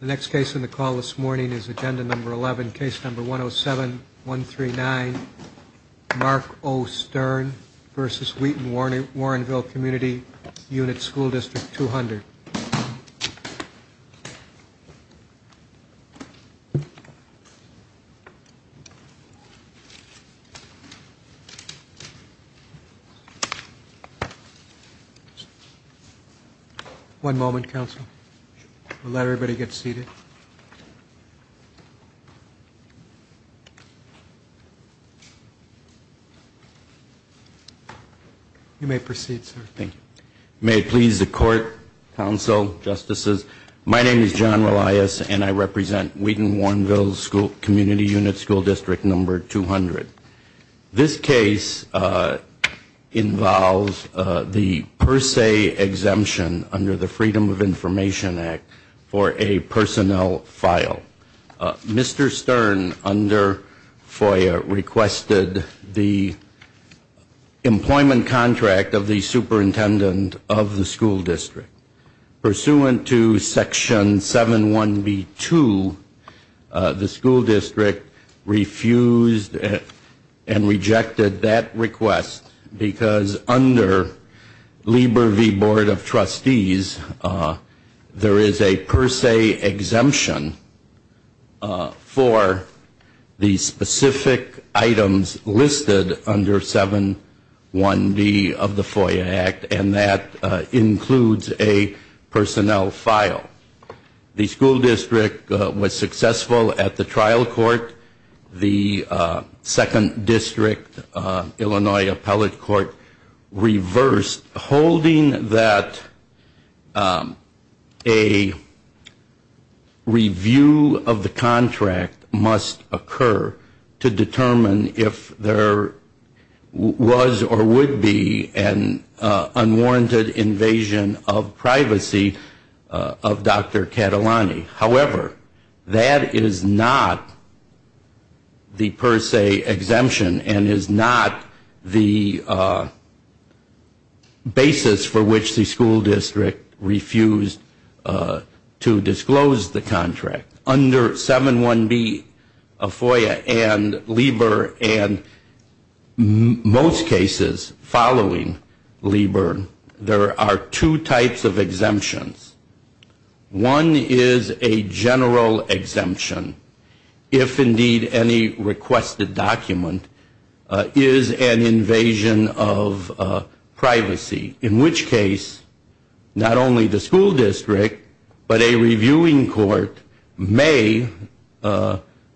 The next case on the call this morning is Agenda Number 11, Case Number 107-139, Mark O. Stern v. Wheaton-Warrenville Community Unit School District 200. One moment, counsel. We'll let everybody get seated. You may proceed, sir. Thank you. May it please the court, counsel, justices, my name is John Relias and I represent Wheaton-Warrenville Community Unit School District Number 200. This case involves the per se exemption under the Freedom of Information Act for a personnel file. Mr. Stern, under FOIA, requested the employment contract of the superintendent of the school district. Pursuant to Section 7-1b-2, the school district refused and rejected that request because under Lieber v. Board of Trustees, there is a per se exemption for the specific items listed under 7-1b of the FOIA Act, and that includes a personnel file. The school district was successful at the trial court. The second district, Illinois Appellate Court, reversed, holding that a review of the contract must occur to determine if there was or would be an unwarranted invasion of privacy of Dr. Catalani. However, that is not the per se exemption and is not the basis for which the school district refused to disclose the contract. Under 7-1b of FOIA and Lieber and most cases following Lieber, there are two types of exemptions. One is a general exemption, if indeed any requested document is an invasion of privacy, in which case not only the school district but a reviewing court may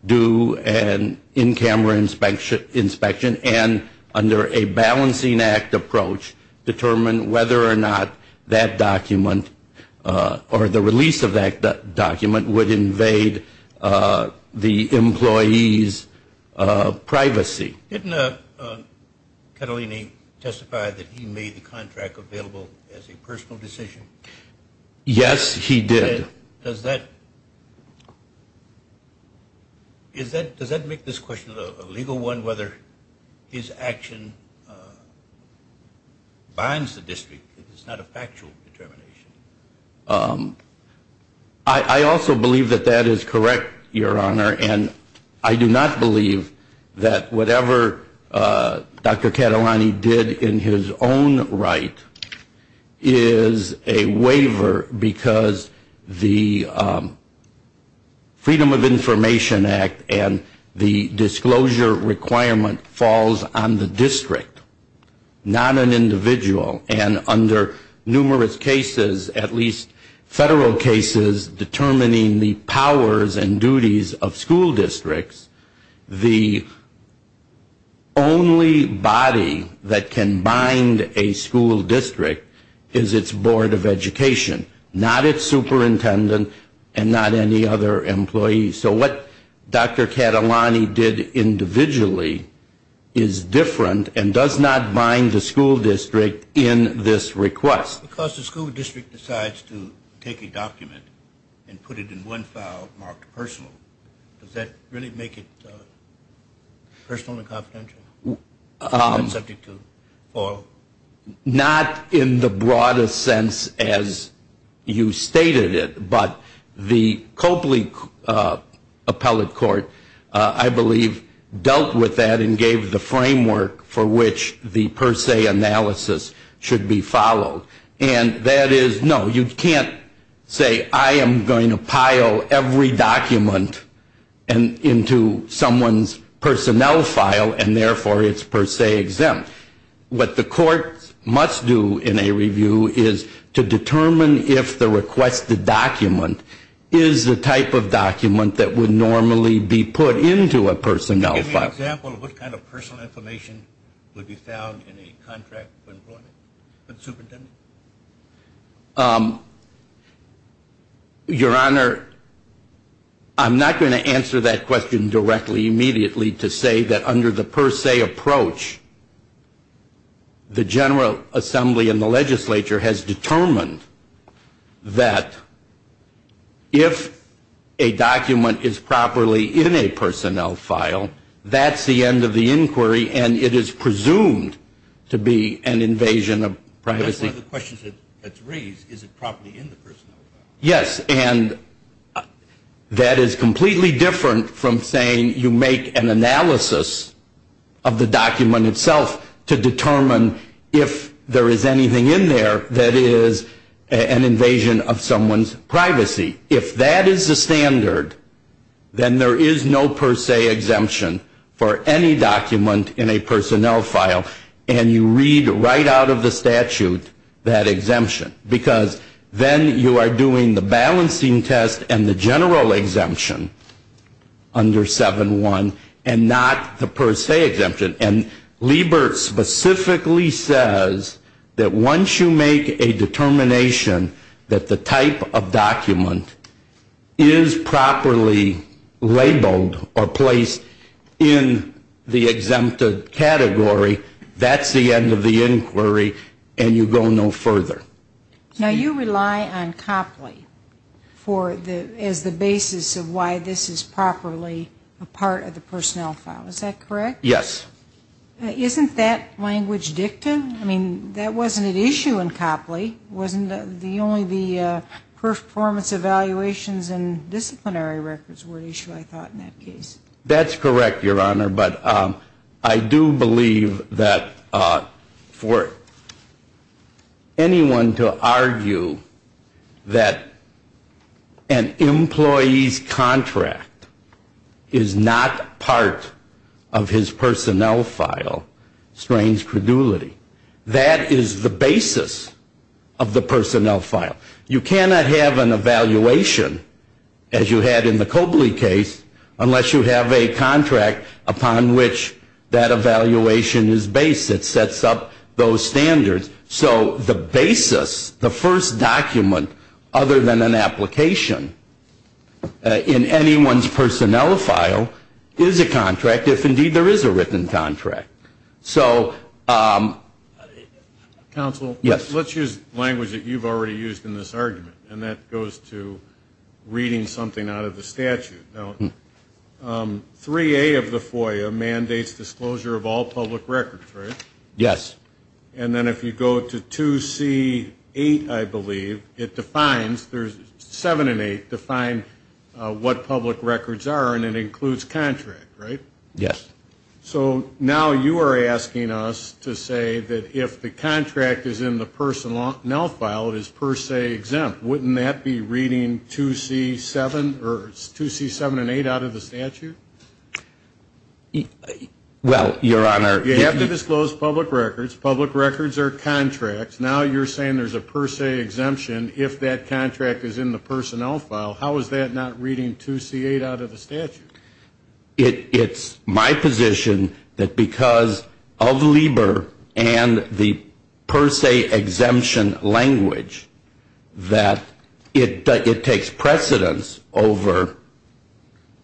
do an in-camera inspection and under a balancing act approach determine whether or not that document or the release of that document would invade the employee's privacy. Didn't Catalani testify that he made the contract available as a personal decision? Yes, he did. Does that make this question a legal one, whether his action binds the district, if it's not a factual determination? I also believe that that is correct, Your Honor, and I do not believe that whatever Dr. Catalani did in his own right is a waiver because the Freedom of Information Act and the disclosure requirement falls on the district, not an individual. And under numerous cases, at least federal cases, determining the powers and duties of school districts, the only body that can bind a school district is its Board of Education, not its superintendent and not any other employee. So what Dr. Catalani did individually is different and does not bind the school district in this request. Because the school district decides to take a document and put it in one file marked personal, does that really make it personal and confidential? Not in the broadest sense as you stated it, but the Copley Appellate Court, I believe, dealt with that and gave the framework for which the per se analysis should be followed. And that is, no, you can't say, I am going to pile every document into someone's personnel file and therefore it's per se exempt. What the court must do in a review is to determine if the requested document is the type of document that would normally be put into a personnel file. Can you give me an example of what kind of personal information would be found in a contract of employment with the superintendent? Your Honor, I'm not going to answer that question directly immediately to say that under the per se approach, the General Assembly and the legislature has determined that if a document is properly in a personnel file, that's the end of the inquiry and it is presumed to be an invasion of privacy. That's one of the questions that's raised, is it properly in the personnel file? Yes, and that is completely different from saying you make an analysis of the document itself to determine if there is anything in there that is an invasion of someone's privacy. If that is the standard, then there is no per se exemption for any document in a personnel file and you read right out of the statute that exemption because then you are doing the balancing test and the general exemption under 7.1 and not the per se exemption. And Liebert specifically says that once you make a determination that the type of document is properly labeled or placed in the exempted category, that's the end of the inquiry and you go no further. Now, you rely on Copley as the basis of why this is properly a part of the personnel file, is that correct? Yes. Isn't that language dictum? I mean, that wasn't an issue in Copley. Wasn't only the performance evaluations and disciplinary records were an issue, I thought, in that case. That's correct, Your Honor, but I do believe that for anyone to argue that an employee's contract is not part of his You cannot have an evaluation, as you had in the Copley case, unless you have a contract upon which that evaluation is based. It sets up those standards. So the basis, the first document other than an application in anyone's personnel file is a contract, if indeed there is a written contract. Counsel? Yes. Let's use language that you've already used in this argument, and that goes to reading something out of the statute. Now, 3A of the FOIA mandates disclosure of all public records, right? Yes. And then if you go to 2C8, I believe, it defines, 7 and 8, define what public records are, and it includes contract, right? Yes. So now you are asking us to say that if the contract is in the personnel file, it is per se exempt. Wouldn't that be reading 2C7 or 2C7 and 8 out of the statute? Well, Your Honor, you have to disclose public records. Public records are contracts. Now you're saying there's a per se exemption if that contract is in the personnel file. How is that not reading 2C8 out of the statute? It's my position that because of LIBOR and the per se exemption language, that it takes precedence over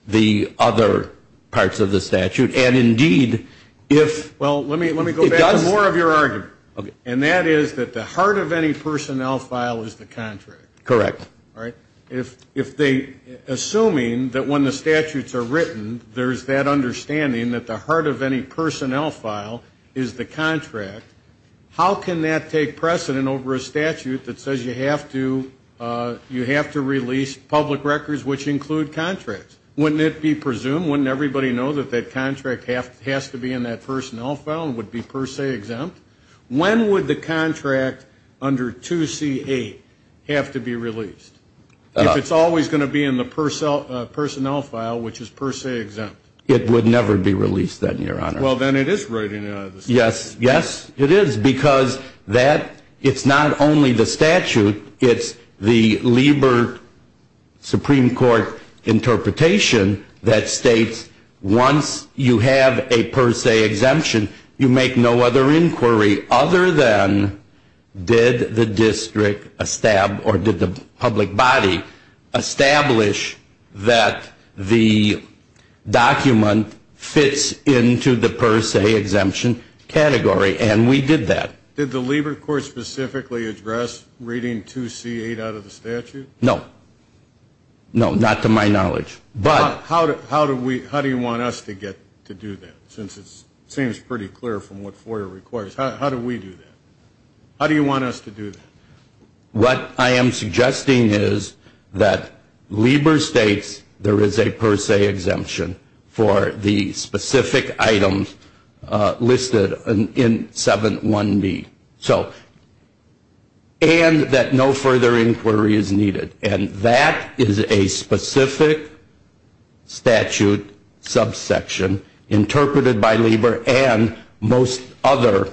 the other parts of the statute. And, indeed, if it does... Well, let me go back to more of your argument. Okay. And that is that the heart of any personnel file is the contract. Correct. Assuming that when the statutes are written, there's that understanding that the heart of any personnel file is the contract, how can that take precedent over a statute that says you have to release public records which include contracts? Wouldn't it be presumed, wouldn't everybody know that that contract has to be in that personnel file and would be per se exempt? When would the contract under 2C8 have to be released? If it's always going to be in the personnel file, which is per se exempt. It would never be released then, Your Honor. Well, then it is written out of the statute. Yes, yes, it is. Because that, it's not only the statute, it's the LIBOR Supreme Court interpretation that states once you have a per se exemption, you make no other inquiry other than did the district or did the public body establish that the document fits into the per se exemption category, and we did that. Did the LIBOR Court specifically address reading 2C8 out of the statute? No. No, not to my knowledge. How do you want us to get to do that since it seems pretty clear from what FOIA requires? How do we do that? How do you want us to do that? What I am suggesting is that LIBOR states there is a per se exemption for the specific items listed in 7.1b, and that no further inquiry is needed, and that is a specific statute subsection interpreted by LIBOR and most other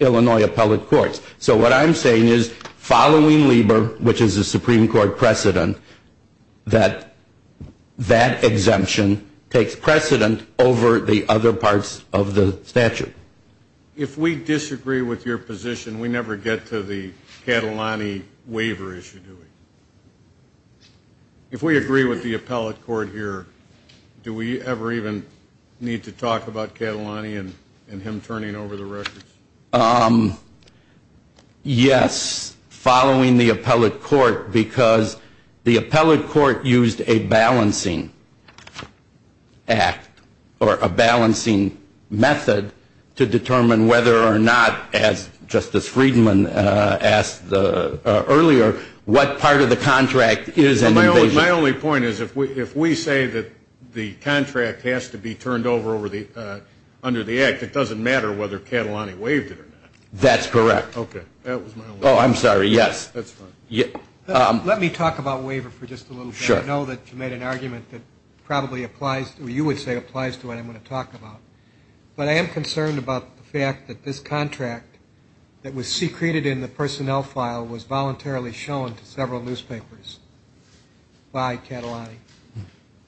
Illinois appellate courts. So what I'm saying is following LIBOR, which is a Supreme Court precedent, that that exemption takes precedent over the other parts of the statute. If we disagree with your position, we never get to the Catalani waiver issue, do we? If we agree with the appellate court here, do we ever even need to talk about Catalani and him turning over the records? Yes, following the appellate court, because the appellate court used a balancing act or a balancing method to determine whether or not, as Justice Friedman asked earlier, what part of the contract is an invasion. My only point is if we say that the contract has to be turned over under the act, it doesn't matter whether Catalani waived it or not. That's correct. Okay, that was my only point. Oh, I'm sorry, yes. That's fine. Let me talk about waiver for just a little bit. Sure. I know that you made an argument that probably applies, or you would say applies, to what I'm going to talk about, but I am concerned about the fact that this contract that was secreted in the personnel file was voluntarily shown to several newspapers by Catalani.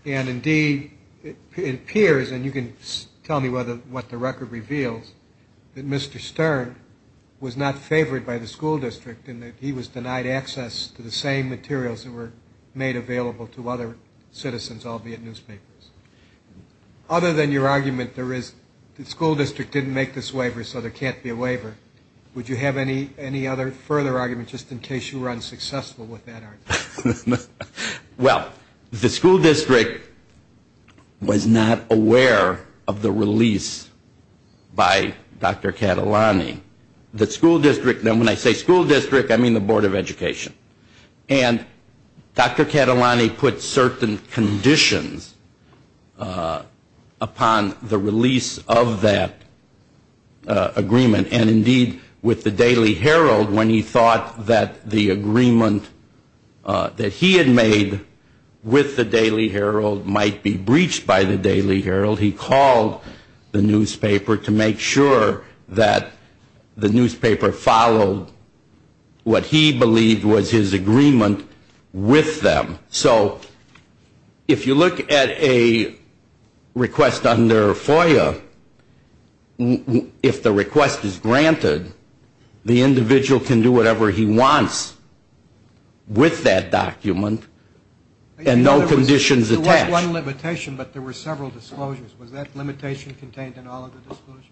And, indeed, it appears, and you can tell me what the record reveals, that Mr. Stern was not favored by the school district and that he was denied access to the same materials that were made available to other citizens, albeit newspapers. Other than your argument that the school district didn't make this waiver so there can't be a waiver, would you have any other further argument just in case you were unsuccessful with that argument? Well, the school district was not aware of the release by Dr. Catalani. The school district, and when I say school district, I mean the Board of Education. And Dr. Catalani put certain conditions upon the release of that agreement, and, indeed, with the Daily Herald, when he thought that the agreement that he had made with the Daily Herald might be breached by the Daily Herald, he called the newspaper to make sure that the newspaper followed what he believed was his agreement with them. So if you look at a request under FOIA, if the request is granted, the individual can do whatever he wants with that document and no conditions attached. There was one limitation, but there were several disclosures. Was that limitation contained in all of the disclosures?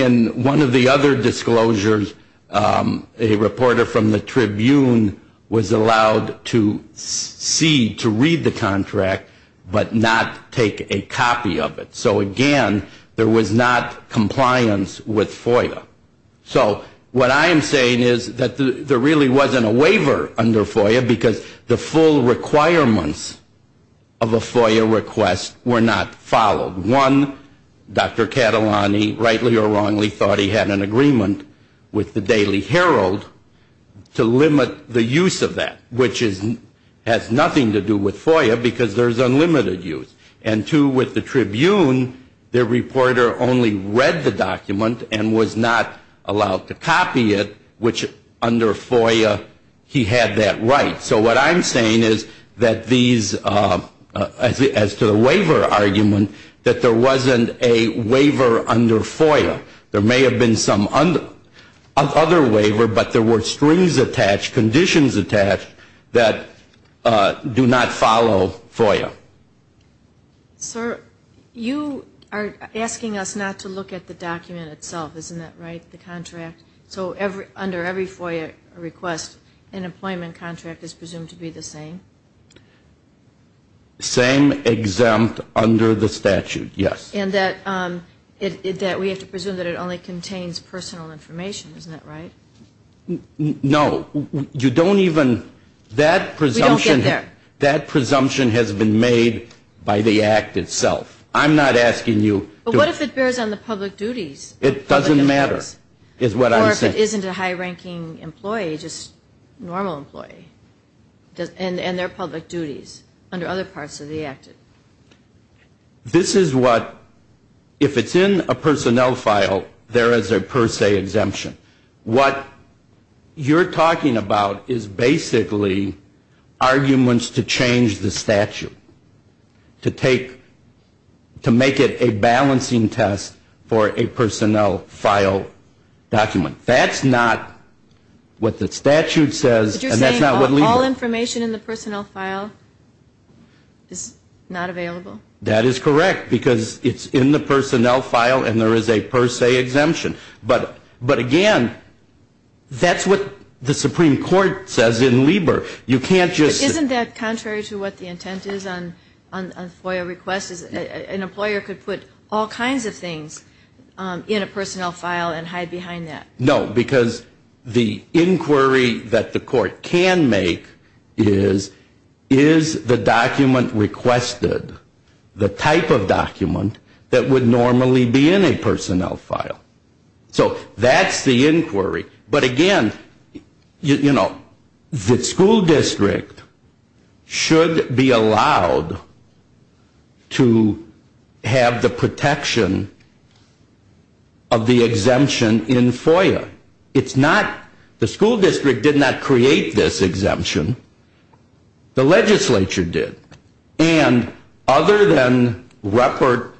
In one of the other disclosures, a reporter from the Tribune was allowed to see, to read the contract, but not take a copy of it. So, again, there was not compliance with FOIA. So what I am saying is that there really wasn't a waiver under FOIA because the full requirements of a FOIA request were not followed. One, Dr. Catalani, rightly or wrongly, thought he had an agreement with the Daily Herald to limit the use of that, which has nothing to do with FOIA because there is unlimited use. And, two, with the Tribune, the reporter only read the document and was not allowed to copy it, which under FOIA he had that right. So what I am saying is that these, as to the waiver argument, that there wasn't a waiver under FOIA. There may have been some other waiver, but there were strings attached, conditions attached, that do not follow FOIA. Sir, you are asking us not to look at the document itself, isn't that right, the contract? So under every FOIA request, an employment contract is presumed to be the same? Same exempt under the statute, yes. And that we have to presume that it only contains personal information, isn't that right? No. You don't even, that presumption has been made by the Act itself. I am not asking you. But what if it bears on the public duties? It doesn't matter, is what I am saying. Or if it isn't a high-ranking employee, just a normal employee, and they are public duties under other parts of the Act. This is what, if it is in a personnel file, there is a per se exemption. What you are talking about is basically arguments to change the statute, to make it a balancing test for a personnel file document. That is not what the statute says, and that is not what LIBOR. But you are saying all information in the personnel file is not available? That is correct, because it is in the personnel file, and there is a per se exemption. But again, that is what the Supreme Court says in LIBOR. Isn't that contrary to what the intent is on FOIA requests? An employer could put all kinds of things in a personnel file and hide behind that. No, because the inquiry that the court can make is, is the document requested the type of document that would normally be in a personnel file? So that is the inquiry. But again, you know, the school district should be allowed to have the protection of the exemption in FOIA. It is not, the school district did not create this exemption. The legislature did. And other than Ruppert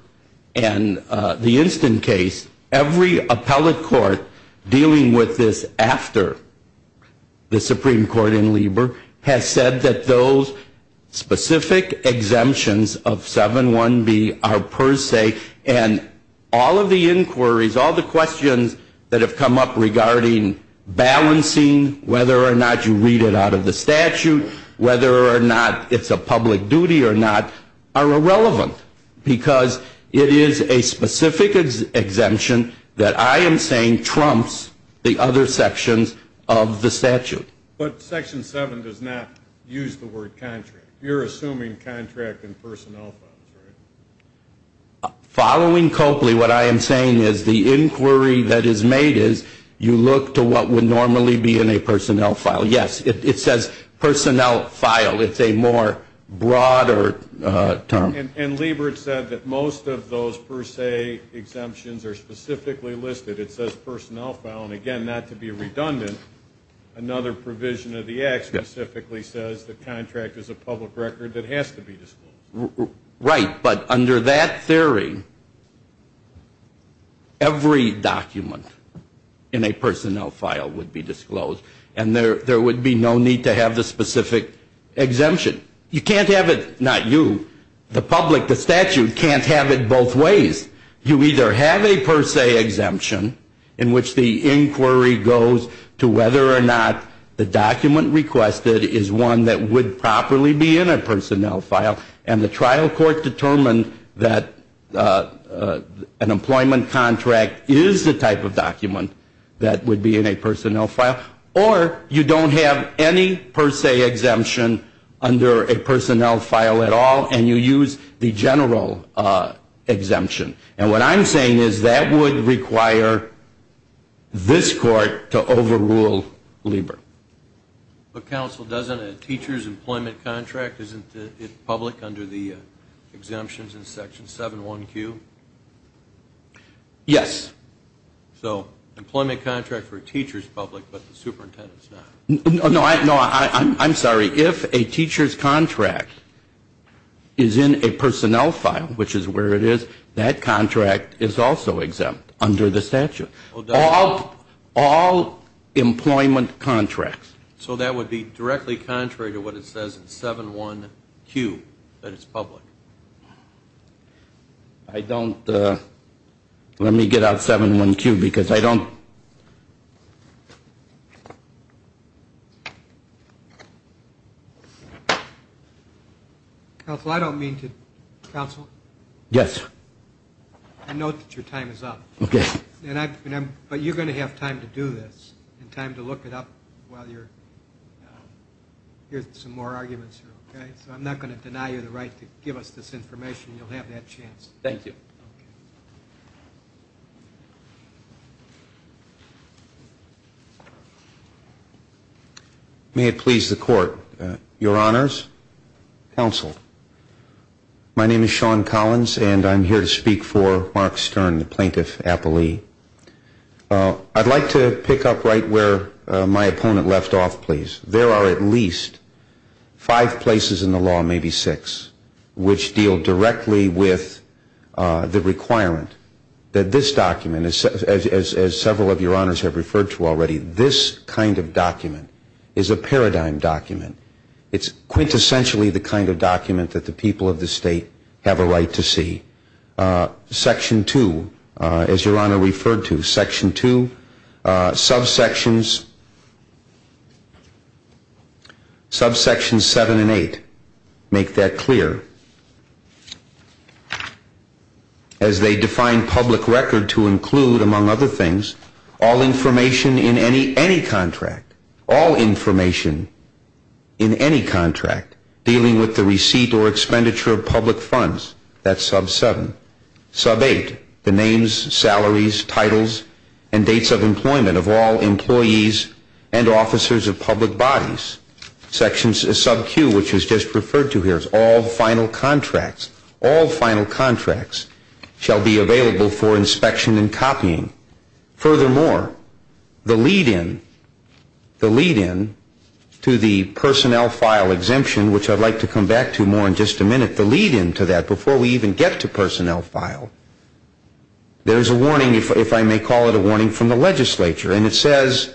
and the instant case, every appellate court dealing with this after the Supreme Court in LIBOR has said that those specific exemptions of 7.1b are per se, and all of the inquiries, all the questions that have come up regarding balancing, whether or not you read it out of the statute, whether or not it's a public duty or not, are irrelevant. Because it is a specific exemption that I am saying trumps the other sections of the statute. But Section 7 does not use the word contract. You're assuming contract in personnel files, right? Following Copley, what I am saying is the inquiry that is made is, you look to what would normally be in a personnel file. Yes, it says personnel file. It's a more broader term. And LIBOR said that most of those per se exemptions are specifically listed. It says personnel file. And again, not to be redundant, another provision of the act specifically says the contract is a public record that has to be disclosed. Right. But under that theory, every document in a personnel file would be disclosed. And there would be no need to have the specific exemption. You can't have it, not you, the public, the statute can't have it both ways. You either have a per se exemption in which the inquiry goes to whether or not the document requested is one that would properly be in a personnel file, and the trial court determined that an employment contract is the type of document that would be in a personnel file, or you don't have any per se exemption under a personnel file at all and you use the general exemption. And what I'm saying is that would require this court to overrule LIBOR. But, counsel, doesn't a teacher's employment contract, isn't it public under the exemptions in Section 7.1Q? Yes. So employment contract for a teacher is public, but the superintendent is not. No, I'm sorry. If a teacher's contract is in a personnel file, which is where it is, that contract is also exempt under the statute. All employment contracts. So that would be directly contrary to what it says in 7.1Q, that it's public. I don't, let me get out 7.1Q because I don't. Counsel, I don't mean to, counsel. Yes. I note that your time is up. Okay. But you're going to have time to do this and time to look it up while you're, here's some more arguments here, okay? So I'm not going to deny you the right to give us this information. You'll have that chance. Thank you. Okay. May it please the court, your honors, counsel, my name is Sean Collins and I'm here to speak for Mark Stern, the plaintiff appellee. I'd like to pick up right where my opponent left off, please. There are at least five places in the law, maybe six, which deal directly with the requirement that this document, as several of your honors have referred to already, this kind of document is a paradigm document. It's quintessentially the kind of document that the people of the state have a right to see. Section two, as your honor referred to, section two, subsections seven and eight make that clear. As they define public record to include, among other things, all information in any contract, all information in any contract dealing with the receipt or expenditure of public funds, that's sub-seven. Sub-eight, the names, salaries, titles, and dates of employment of all employees and officers of public bodies. Sub-Q, which was just referred to here, is all final contracts. All final contracts shall be available for inspection and copying. Furthermore, the lead-in, the lead-in to the personnel file exemption, which I'd like to come back to more in just a minute, the lead-in to that before we even get to personnel file, there's a warning, if I may call it a warning, from the legislature. And it says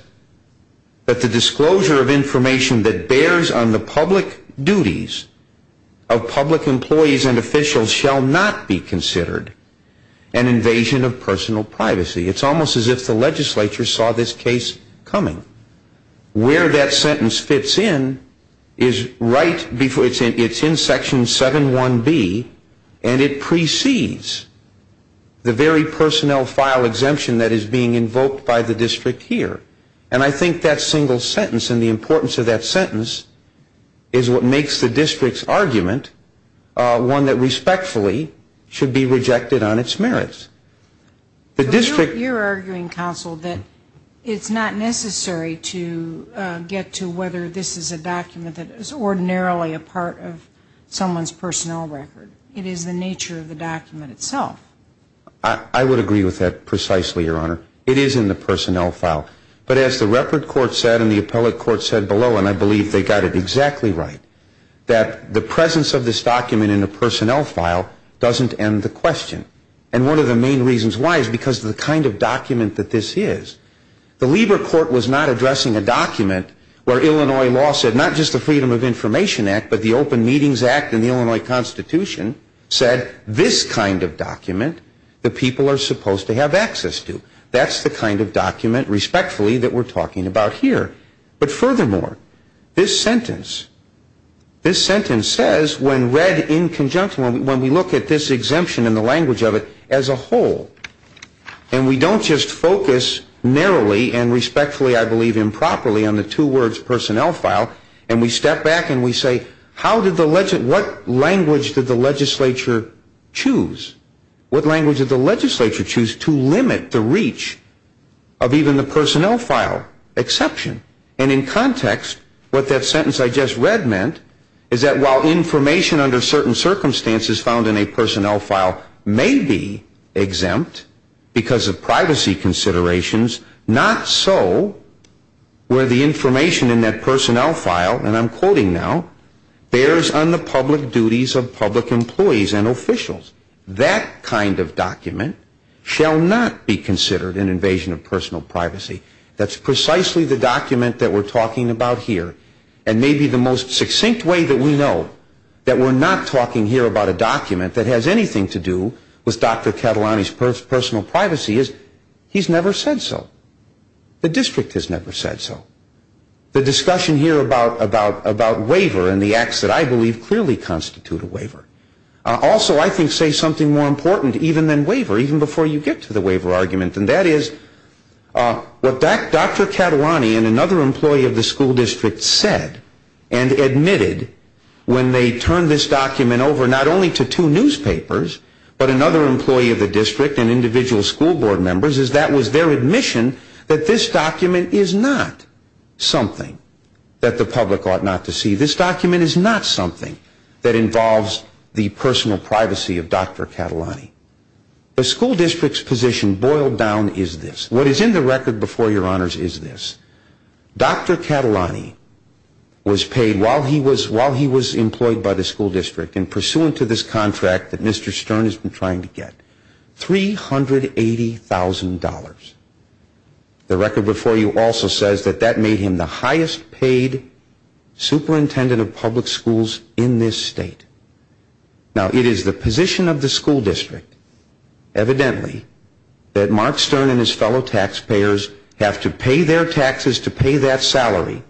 that the disclosure of information that bears on the public duties of public employees and officials shall not be considered an invasion of personal privacy. It's almost as if the legislature saw this case coming. Where that sentence fits in is right before, it's in section 7.1.B, and it precedes the very personnel file exemption that is being invoked by the district here. And I think that single sentence and the importance of that sentence is what makes the district's argument one that respectfully should be rejected on its merits. The district... But you're arguing, counsel, that it's not necessary to get to whether this is a document that is ordinarily a part of someone's personnel record. It is the nature of the document itself. I would agree with that precisely, Your Honor. It is in the personnel file. But as the record court said and the appellate court said below, and I believe they got it exactly right, that the presence of this document in a personnel file doesn't end the question. And one of the main reasons why is because of the kind of document that this is. The Lieber court was not addressing a document where Illinois law said not just the Freedom of Information Act, but the Open Meetings Act and the Illinois Constitution said this kind of document that people are supposed to have access to. That's the kind of document, respectfully, that we're talking about here. But furthermore, this sentence, this sentence says when read in conjunction, when we look at this exemption and the language of it as a whole, and we don't just focus narrowly and respectfully, I believe, improperly on the two words personnel file, and we step back and we say, how did the... what language did the legislature choose? What language did the legislature choose to limit the reach of even the personnel file exception? And in context, what that sentence I just read meant is that while information under certain circumstances found in a personnel file may be exempt because of privacy considerations, not so where the information in that personnel file, and I'm quoting now, bears on the public duties of public employees and officials. That kind of document shall not be considered an invasion of personal privacy. That's precisely the document that we're talking about here. And maybe the most succinct way that we know that we're not talking here about a document that has anything to do with Dr. Catalani's personal privacy is he's never said so. The district has never said so. The discussion here about waiver and the acts that I believe clearly constitute a waiver, also I think say something more important even than waiver, even before you get to the waiver argument, and that is what Dr. Catalani and another employee of the school district said and admitted when they turned this document over not only to two newspapers, but another employee of the district and individual school board members, as that was their admission that this document is not something that the public ought not to see. This document is not something that involves the personal privacy of Dr. Catalani. The school district's position boiled down is this. What is in the record before your honors is this. Dr. Catalani was paid while he was employed by the school district and pursuant to this contract that Mr. Stern has been trying to get, $380,000. The record before you also says that that made him the highest paid superintendent of public schools in this state. Now, it is the position of the school district, evidently, that Mark Stern and his fellow taxpayers have to pay their taxes to pay that salary,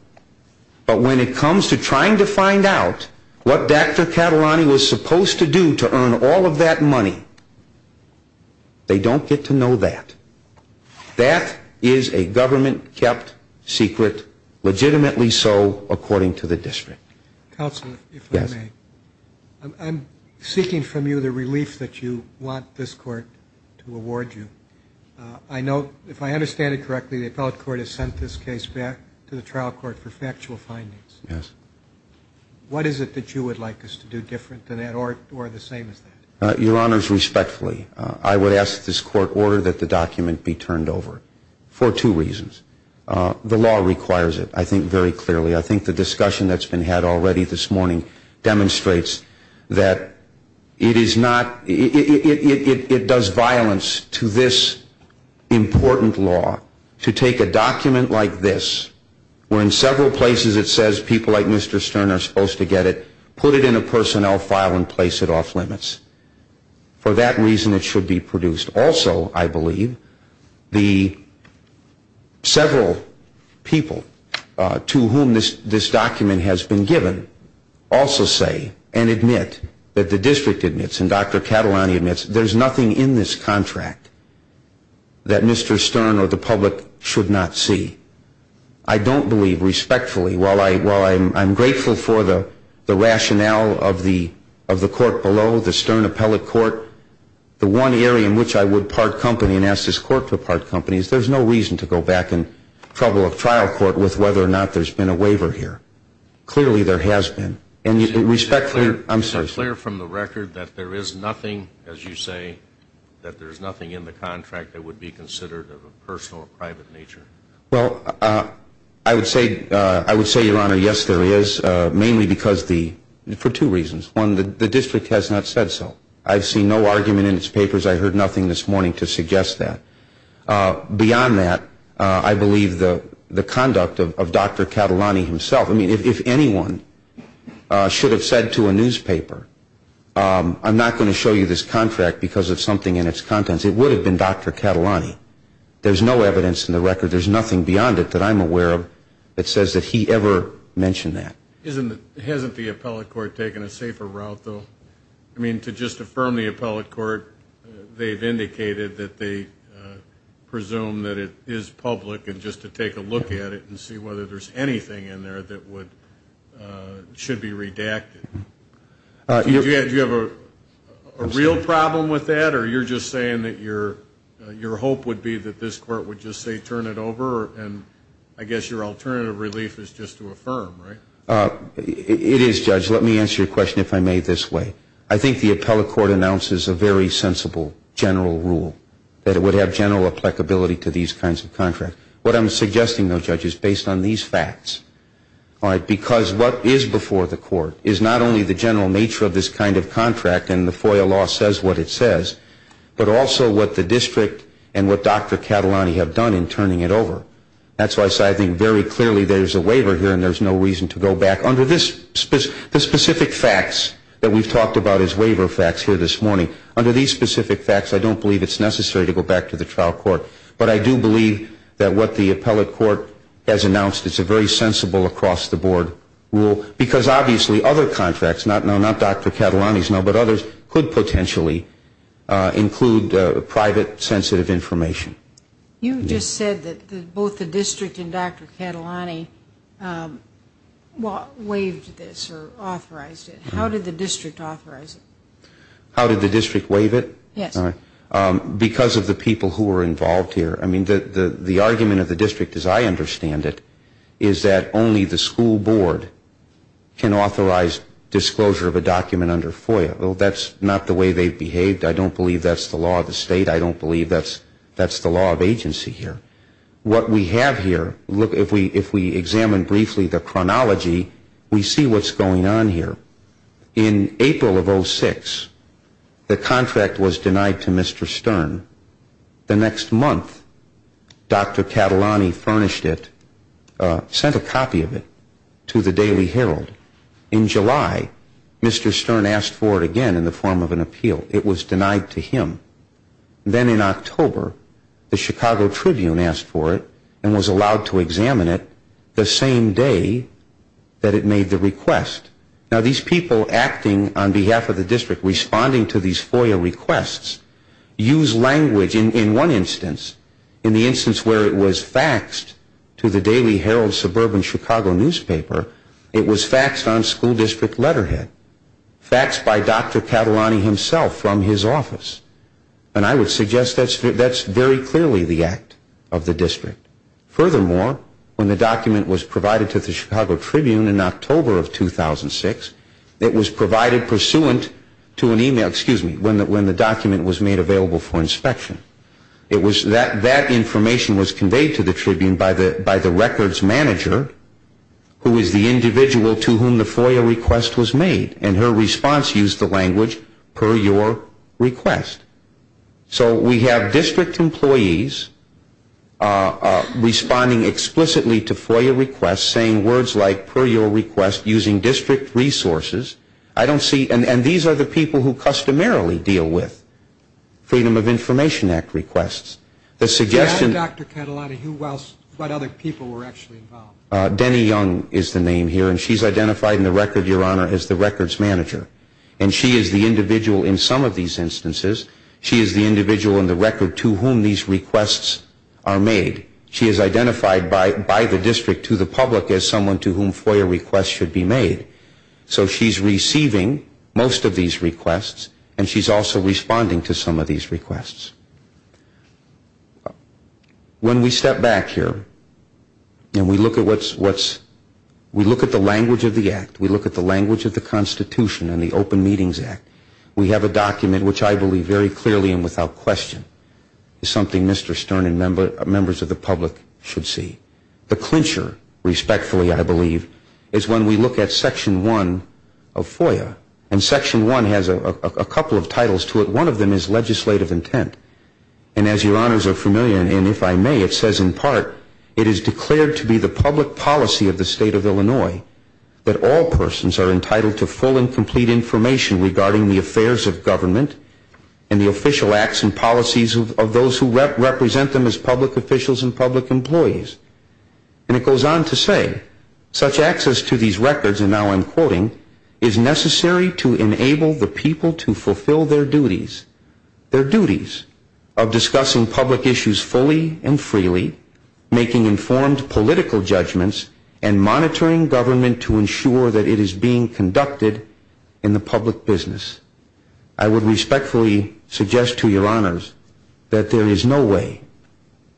but when it comes to trying to find out what Dr. Catalani was supposed to do to earn all of that money, they don't get to know that. That is a government-kept secret, legitimately so, according to the district. Counsel, if I may. Yes. I'm seeking from you the relief that you want this court to award you. I note, if I understand it correctly, the appellate court has sent this case back to the trial court for factual findings. Yes. What is it that you would like us to do different than that or the same as that? Your honors, respectfully, I would ask that this court order that the document be turned over for two reasons. The law requires it, I think very clearly. I think the discussion that's been had already this morning demonstrates that it does violence to this important law to take a document like this, where in several places it says people like Mr. Stern are supposed to get it, put it in a personnel file and place it off limits. For that reason, it should be produced. Also, I believe, the several people to whom this document has been given also say and admit that the district admits and Dr. Catalani admits there's nothing in this contract that Mr. Stern or the public should not see. I don't believe, respectfully, while I'm grateful for the rationale of the court below, the Stern appellate court, the one area in which I would part company and ask this court to part company is there's no reason to go back and trouble a trial court with whether or not there's been a waiver here. Clearly, there has been. And respectfully, I'm sorry. Is it clear from the record that there is nothing, as you say, that there's nothing in the contract that would be considered of a personal or private nature? Well, I would say, Your Honor, yes, there is, mainly because the, for two reasons. One, the district has not said so. I've seen no argument in its papers. I heard nothing this morning to suggest that. Beyond that, I believe the conduct of Dr. Catalani himself. I mean, if anyone should have said to a newspaper, I'm not going to show you this contract because of something in its contents, it would have been Dr. Catalani. There's no evidence in the record. There's nothing beyond it that I'm aware of that says that he ever mentioned that. Hasn't the appellate court taken a safer route, though? I mean, to just affirm the appellate court, they've indicated that they presume that it is public, and just to take a look at it and see whether there's anything in there that should be redacted. Do you have a real problem with that, or you're just saying that your hope would be that this court would just say turn it over and I guess your alternative relief is just to affirm, right? It is, Judge. Let me answer your question, if I may, this way. I think the appellate court announces a very sensible general rule, that it would have general applicability to these kinds of contracts. What I'm suggesting, though, Judge, is based on these facts, all right, because what is before the court is not only the general nature of this kind of contract and the FOIA law says what it says, but also what the district and what Dr. Catalani have done in turning it over. That's why I say I think very clearly there's a waiver here and there's no reason to go back. Under the specific facts that we've talked about as waiver facts here this morning, under these specific facts I don't believe it's necessary to go back to the trial court, but I do believe that what the appellate court has announced is a very sensible across-the-board rule because obviously other contracts, not Dr. Catalani's now, but others could potentially include private sensitive information. You just said that both the district and Dr. Catalani waived this or authorized it. How did the district authorize it? How did the district waive it? Yes. Because of the people who were involved here. I mean, the argument of the district as I understand it is that only the school board can authorize disclosure of a document under FOIA. Well, that's not the way they've behaved. I don't believe that's the law of the state. I don't believe that's the law of agency here. What we have here, if we examine briefly the chronology, we see what's going on here. In April of 06, the contract was denied to Mr. Stern. The next month, Dr. Catalani furnished it, sent a copy of it to the Daily Herald. In July, Mr. Stern asked for it again in the form of an appeal. It was denied to him. Then in October, the Chicago Tribune asked for it and was allowed to examine it the same day that it made the request. Now, these people acting on behalf of the district responding to these FOIA requests use language. In one instance, in the instance where it was faxed to the Daily Herald suburban Chicago newspaper, it was faxed on school district letterhead, faxed by Dr. Catalani himself from his office. And I would suggest that's very clearly the act of the district. Furthermore, when the document was provided to the Chicago Tribune in October of 2006, it was provided pursuant to an email, excuse me, when the document was made available for inspection. That information was conveyed to the Tribune by the records manager, who is the individual to whom the FOIA request was made. And her response used the language, per your request. So we have district employees responding explicitly to FOIA requests, saying words like, per your request, using district resources. I don't see, and these are the people who customarily deal with Freedom of Information Act requests. The suggestion- Who else, Dr. Catalani, who else, what other people were actually involved? Denny Young is the name here, and she's identified in the record, Your Honor, as the records manager. And she is the individual in some of these instances, she is the individual in the record to whom these requests are made. She is identified by the district to the public as someone to whom FOIA requests should be made. So she's receiving most of these requests, and she's also responding to some of these requests. When we step back here, and we look at what's- We have a document, which I believe very clearly and without question, is something Mr. Stern and members of the public should see. The clincher, respectfully, I believe, is when we look at Section 1 of FOIA. And Section 1 has a couple of titles to it. One of them is legislative intent. And as Your Honors are familiar, and if I may, it says in part, that all persons are entitled to full and complete information regarding the affairs of government and the official acts and policies of those who represent them as public officials and public employees. And it goes on to say, such access to these records, and now I'm quoting, is necessary to enable the people to fulfill their duties, their duties of discussing public issues fully and freely, making informed political judgments, and monitoring government to ensure that it is being conducted in the public business. I would respectfully suggest to Your Honors that there is no way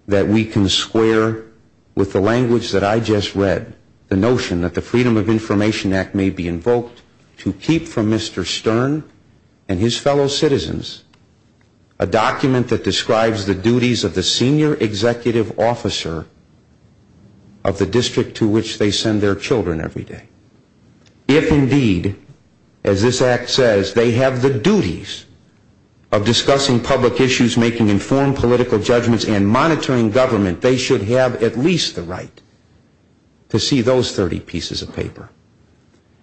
that we can square with the language that I just read, the notion that the Freedom of Information Act may be invoked to keep from Mr. Stern and his fellow citizens a document that describes the duties of the senior executive officer of the district to which they send their children every day. If indeed, as this act says, they have the duties of discussing public issues, making informed political judgments, and monitoring government, they should have at least the right to see those 30 pieces of paper.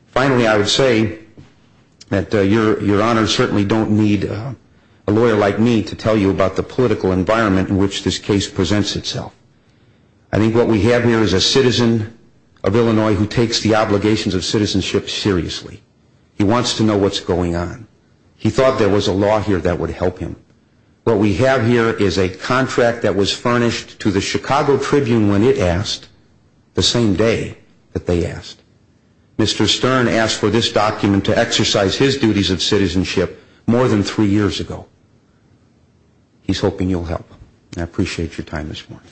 Finally, I would say that Your Honors certainly don't need a lawyer like me to tell you about the political environment in which this case presents itself. I think what we have here is a citizen of Illinois who takes the obligations of citizenship seriously. He wants to know what's going on. He thought there was a law here that would help him. What we have here is a contract that was furnished to the Chicago Tribune the same day that they asked. Mr. Stern asked for this document to exercise his duties of citizenship more than three years ago. He's hoping you'll help him. I appreciate your time this morning.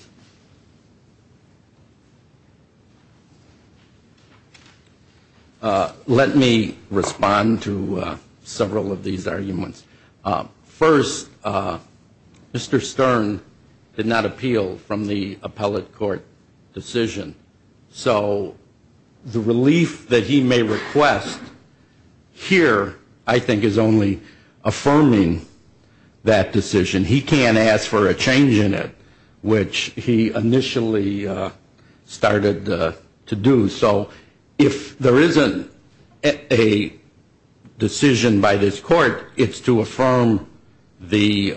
Let me respond to several of these arguments. First, Mr. Stern did not appeal from the appellate court decision. So the relief that he may request here I think is only affirming that decision. He can't ask for a change in it, which he initially started to do. So if there isn't a decision by this court, it's to affirm the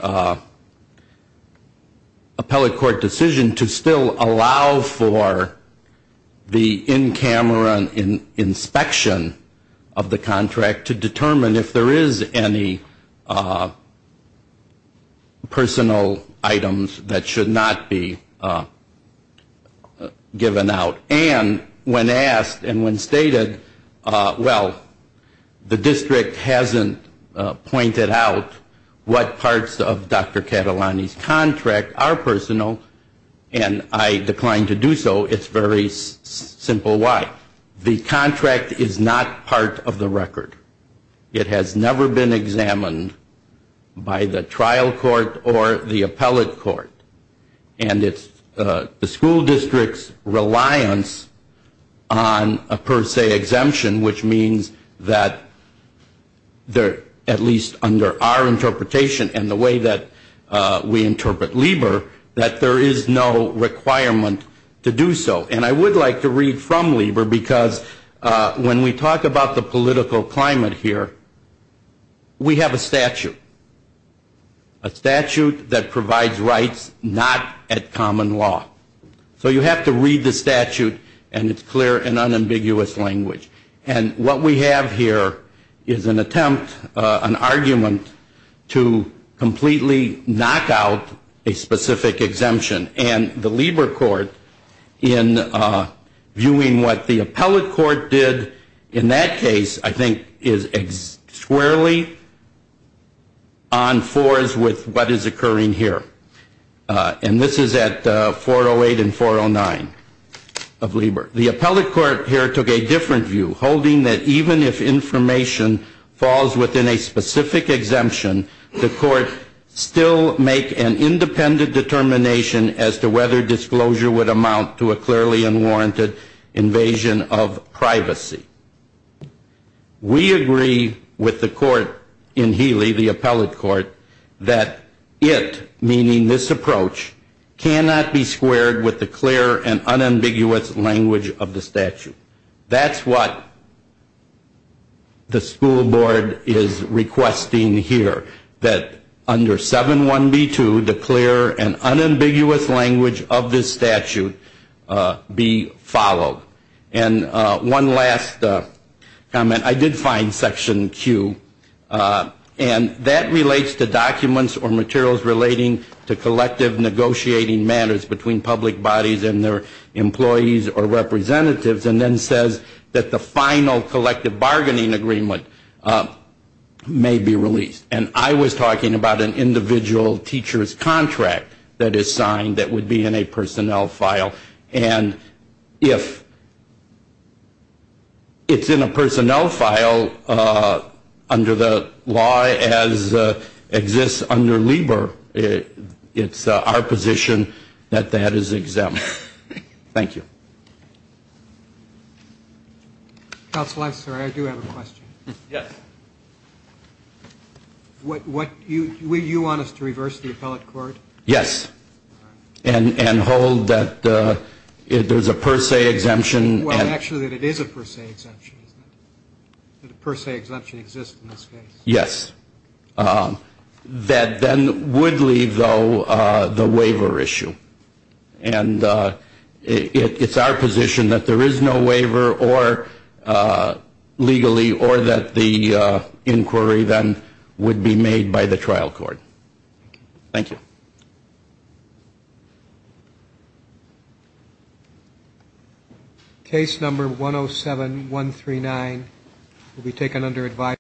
appellate court decision to still allow for the in-camera inspection of the contract to determine if there is any personal items that should not be given out. And when asked and when stated, well, the district hasn't pointed out what parts of Dr. Catalani's contract are personal, and I declined to do so. It's very simple why. The contract is not part of the record. It has never been examined by the trial court or the appellate court. And it's the school district's reliance on a per se exemption, which means that at least under our interpretation and the way that we interpret LIBOR, that there is no requirement to do so. And I would like to read from LIBOR because when we talk about the political climate here, we have a statute, a statute that provides rights not at common law. So you have to read the statute, and it's clear and unambiguous language. And what we have here is an attempt, an argument, to completely knock out a specific exemption. And the LIBOR court, in viewing what the appellate court did in that case, I think is squarely on fours with what is occurring here. And this is at 408 and 409 of LIBOR. The appellate court here took a different view, holding that even if information falls within a specific exemption, the court still make an independent determination as to whether disclosure would amount to a clearly unwarranted invasion of privacy. We agree with the court in Healy, the appellate court, that it, meaning this approach, cannot be squared with the clear and unambiguous language of the statute. That's what the school board is requesting here, that under 7.1b.2, the clear and unambiguous language of this statute be followed. And one last comment. I did find Section Q, and that relates to documents or materials relating to collective negotiating matters between public bodies and their employees or representatives, and then says that the final collective bargaining agreement may be released. And I was talking about an individual teacher's contract that is signed that would be in a personnel file. And if it's in a personnel file under the law as exists under LIBOR, it's our position that that is exempt. Thank you. Counsel, I'm sorry, I do have a question. Yes. Would you want us to reverse the appellate court? Yes, and hold that there's a per se exemption. Well, actually, that it is a per se exemption, isn't it? That a per se exemption exists in this case. Yes. That then would leave, though, the waiver issue. And it's our position that there is no waiver legally or that the inquiry then would be made by the trial court. Thank you. Case number 107139 will be taken under advisory.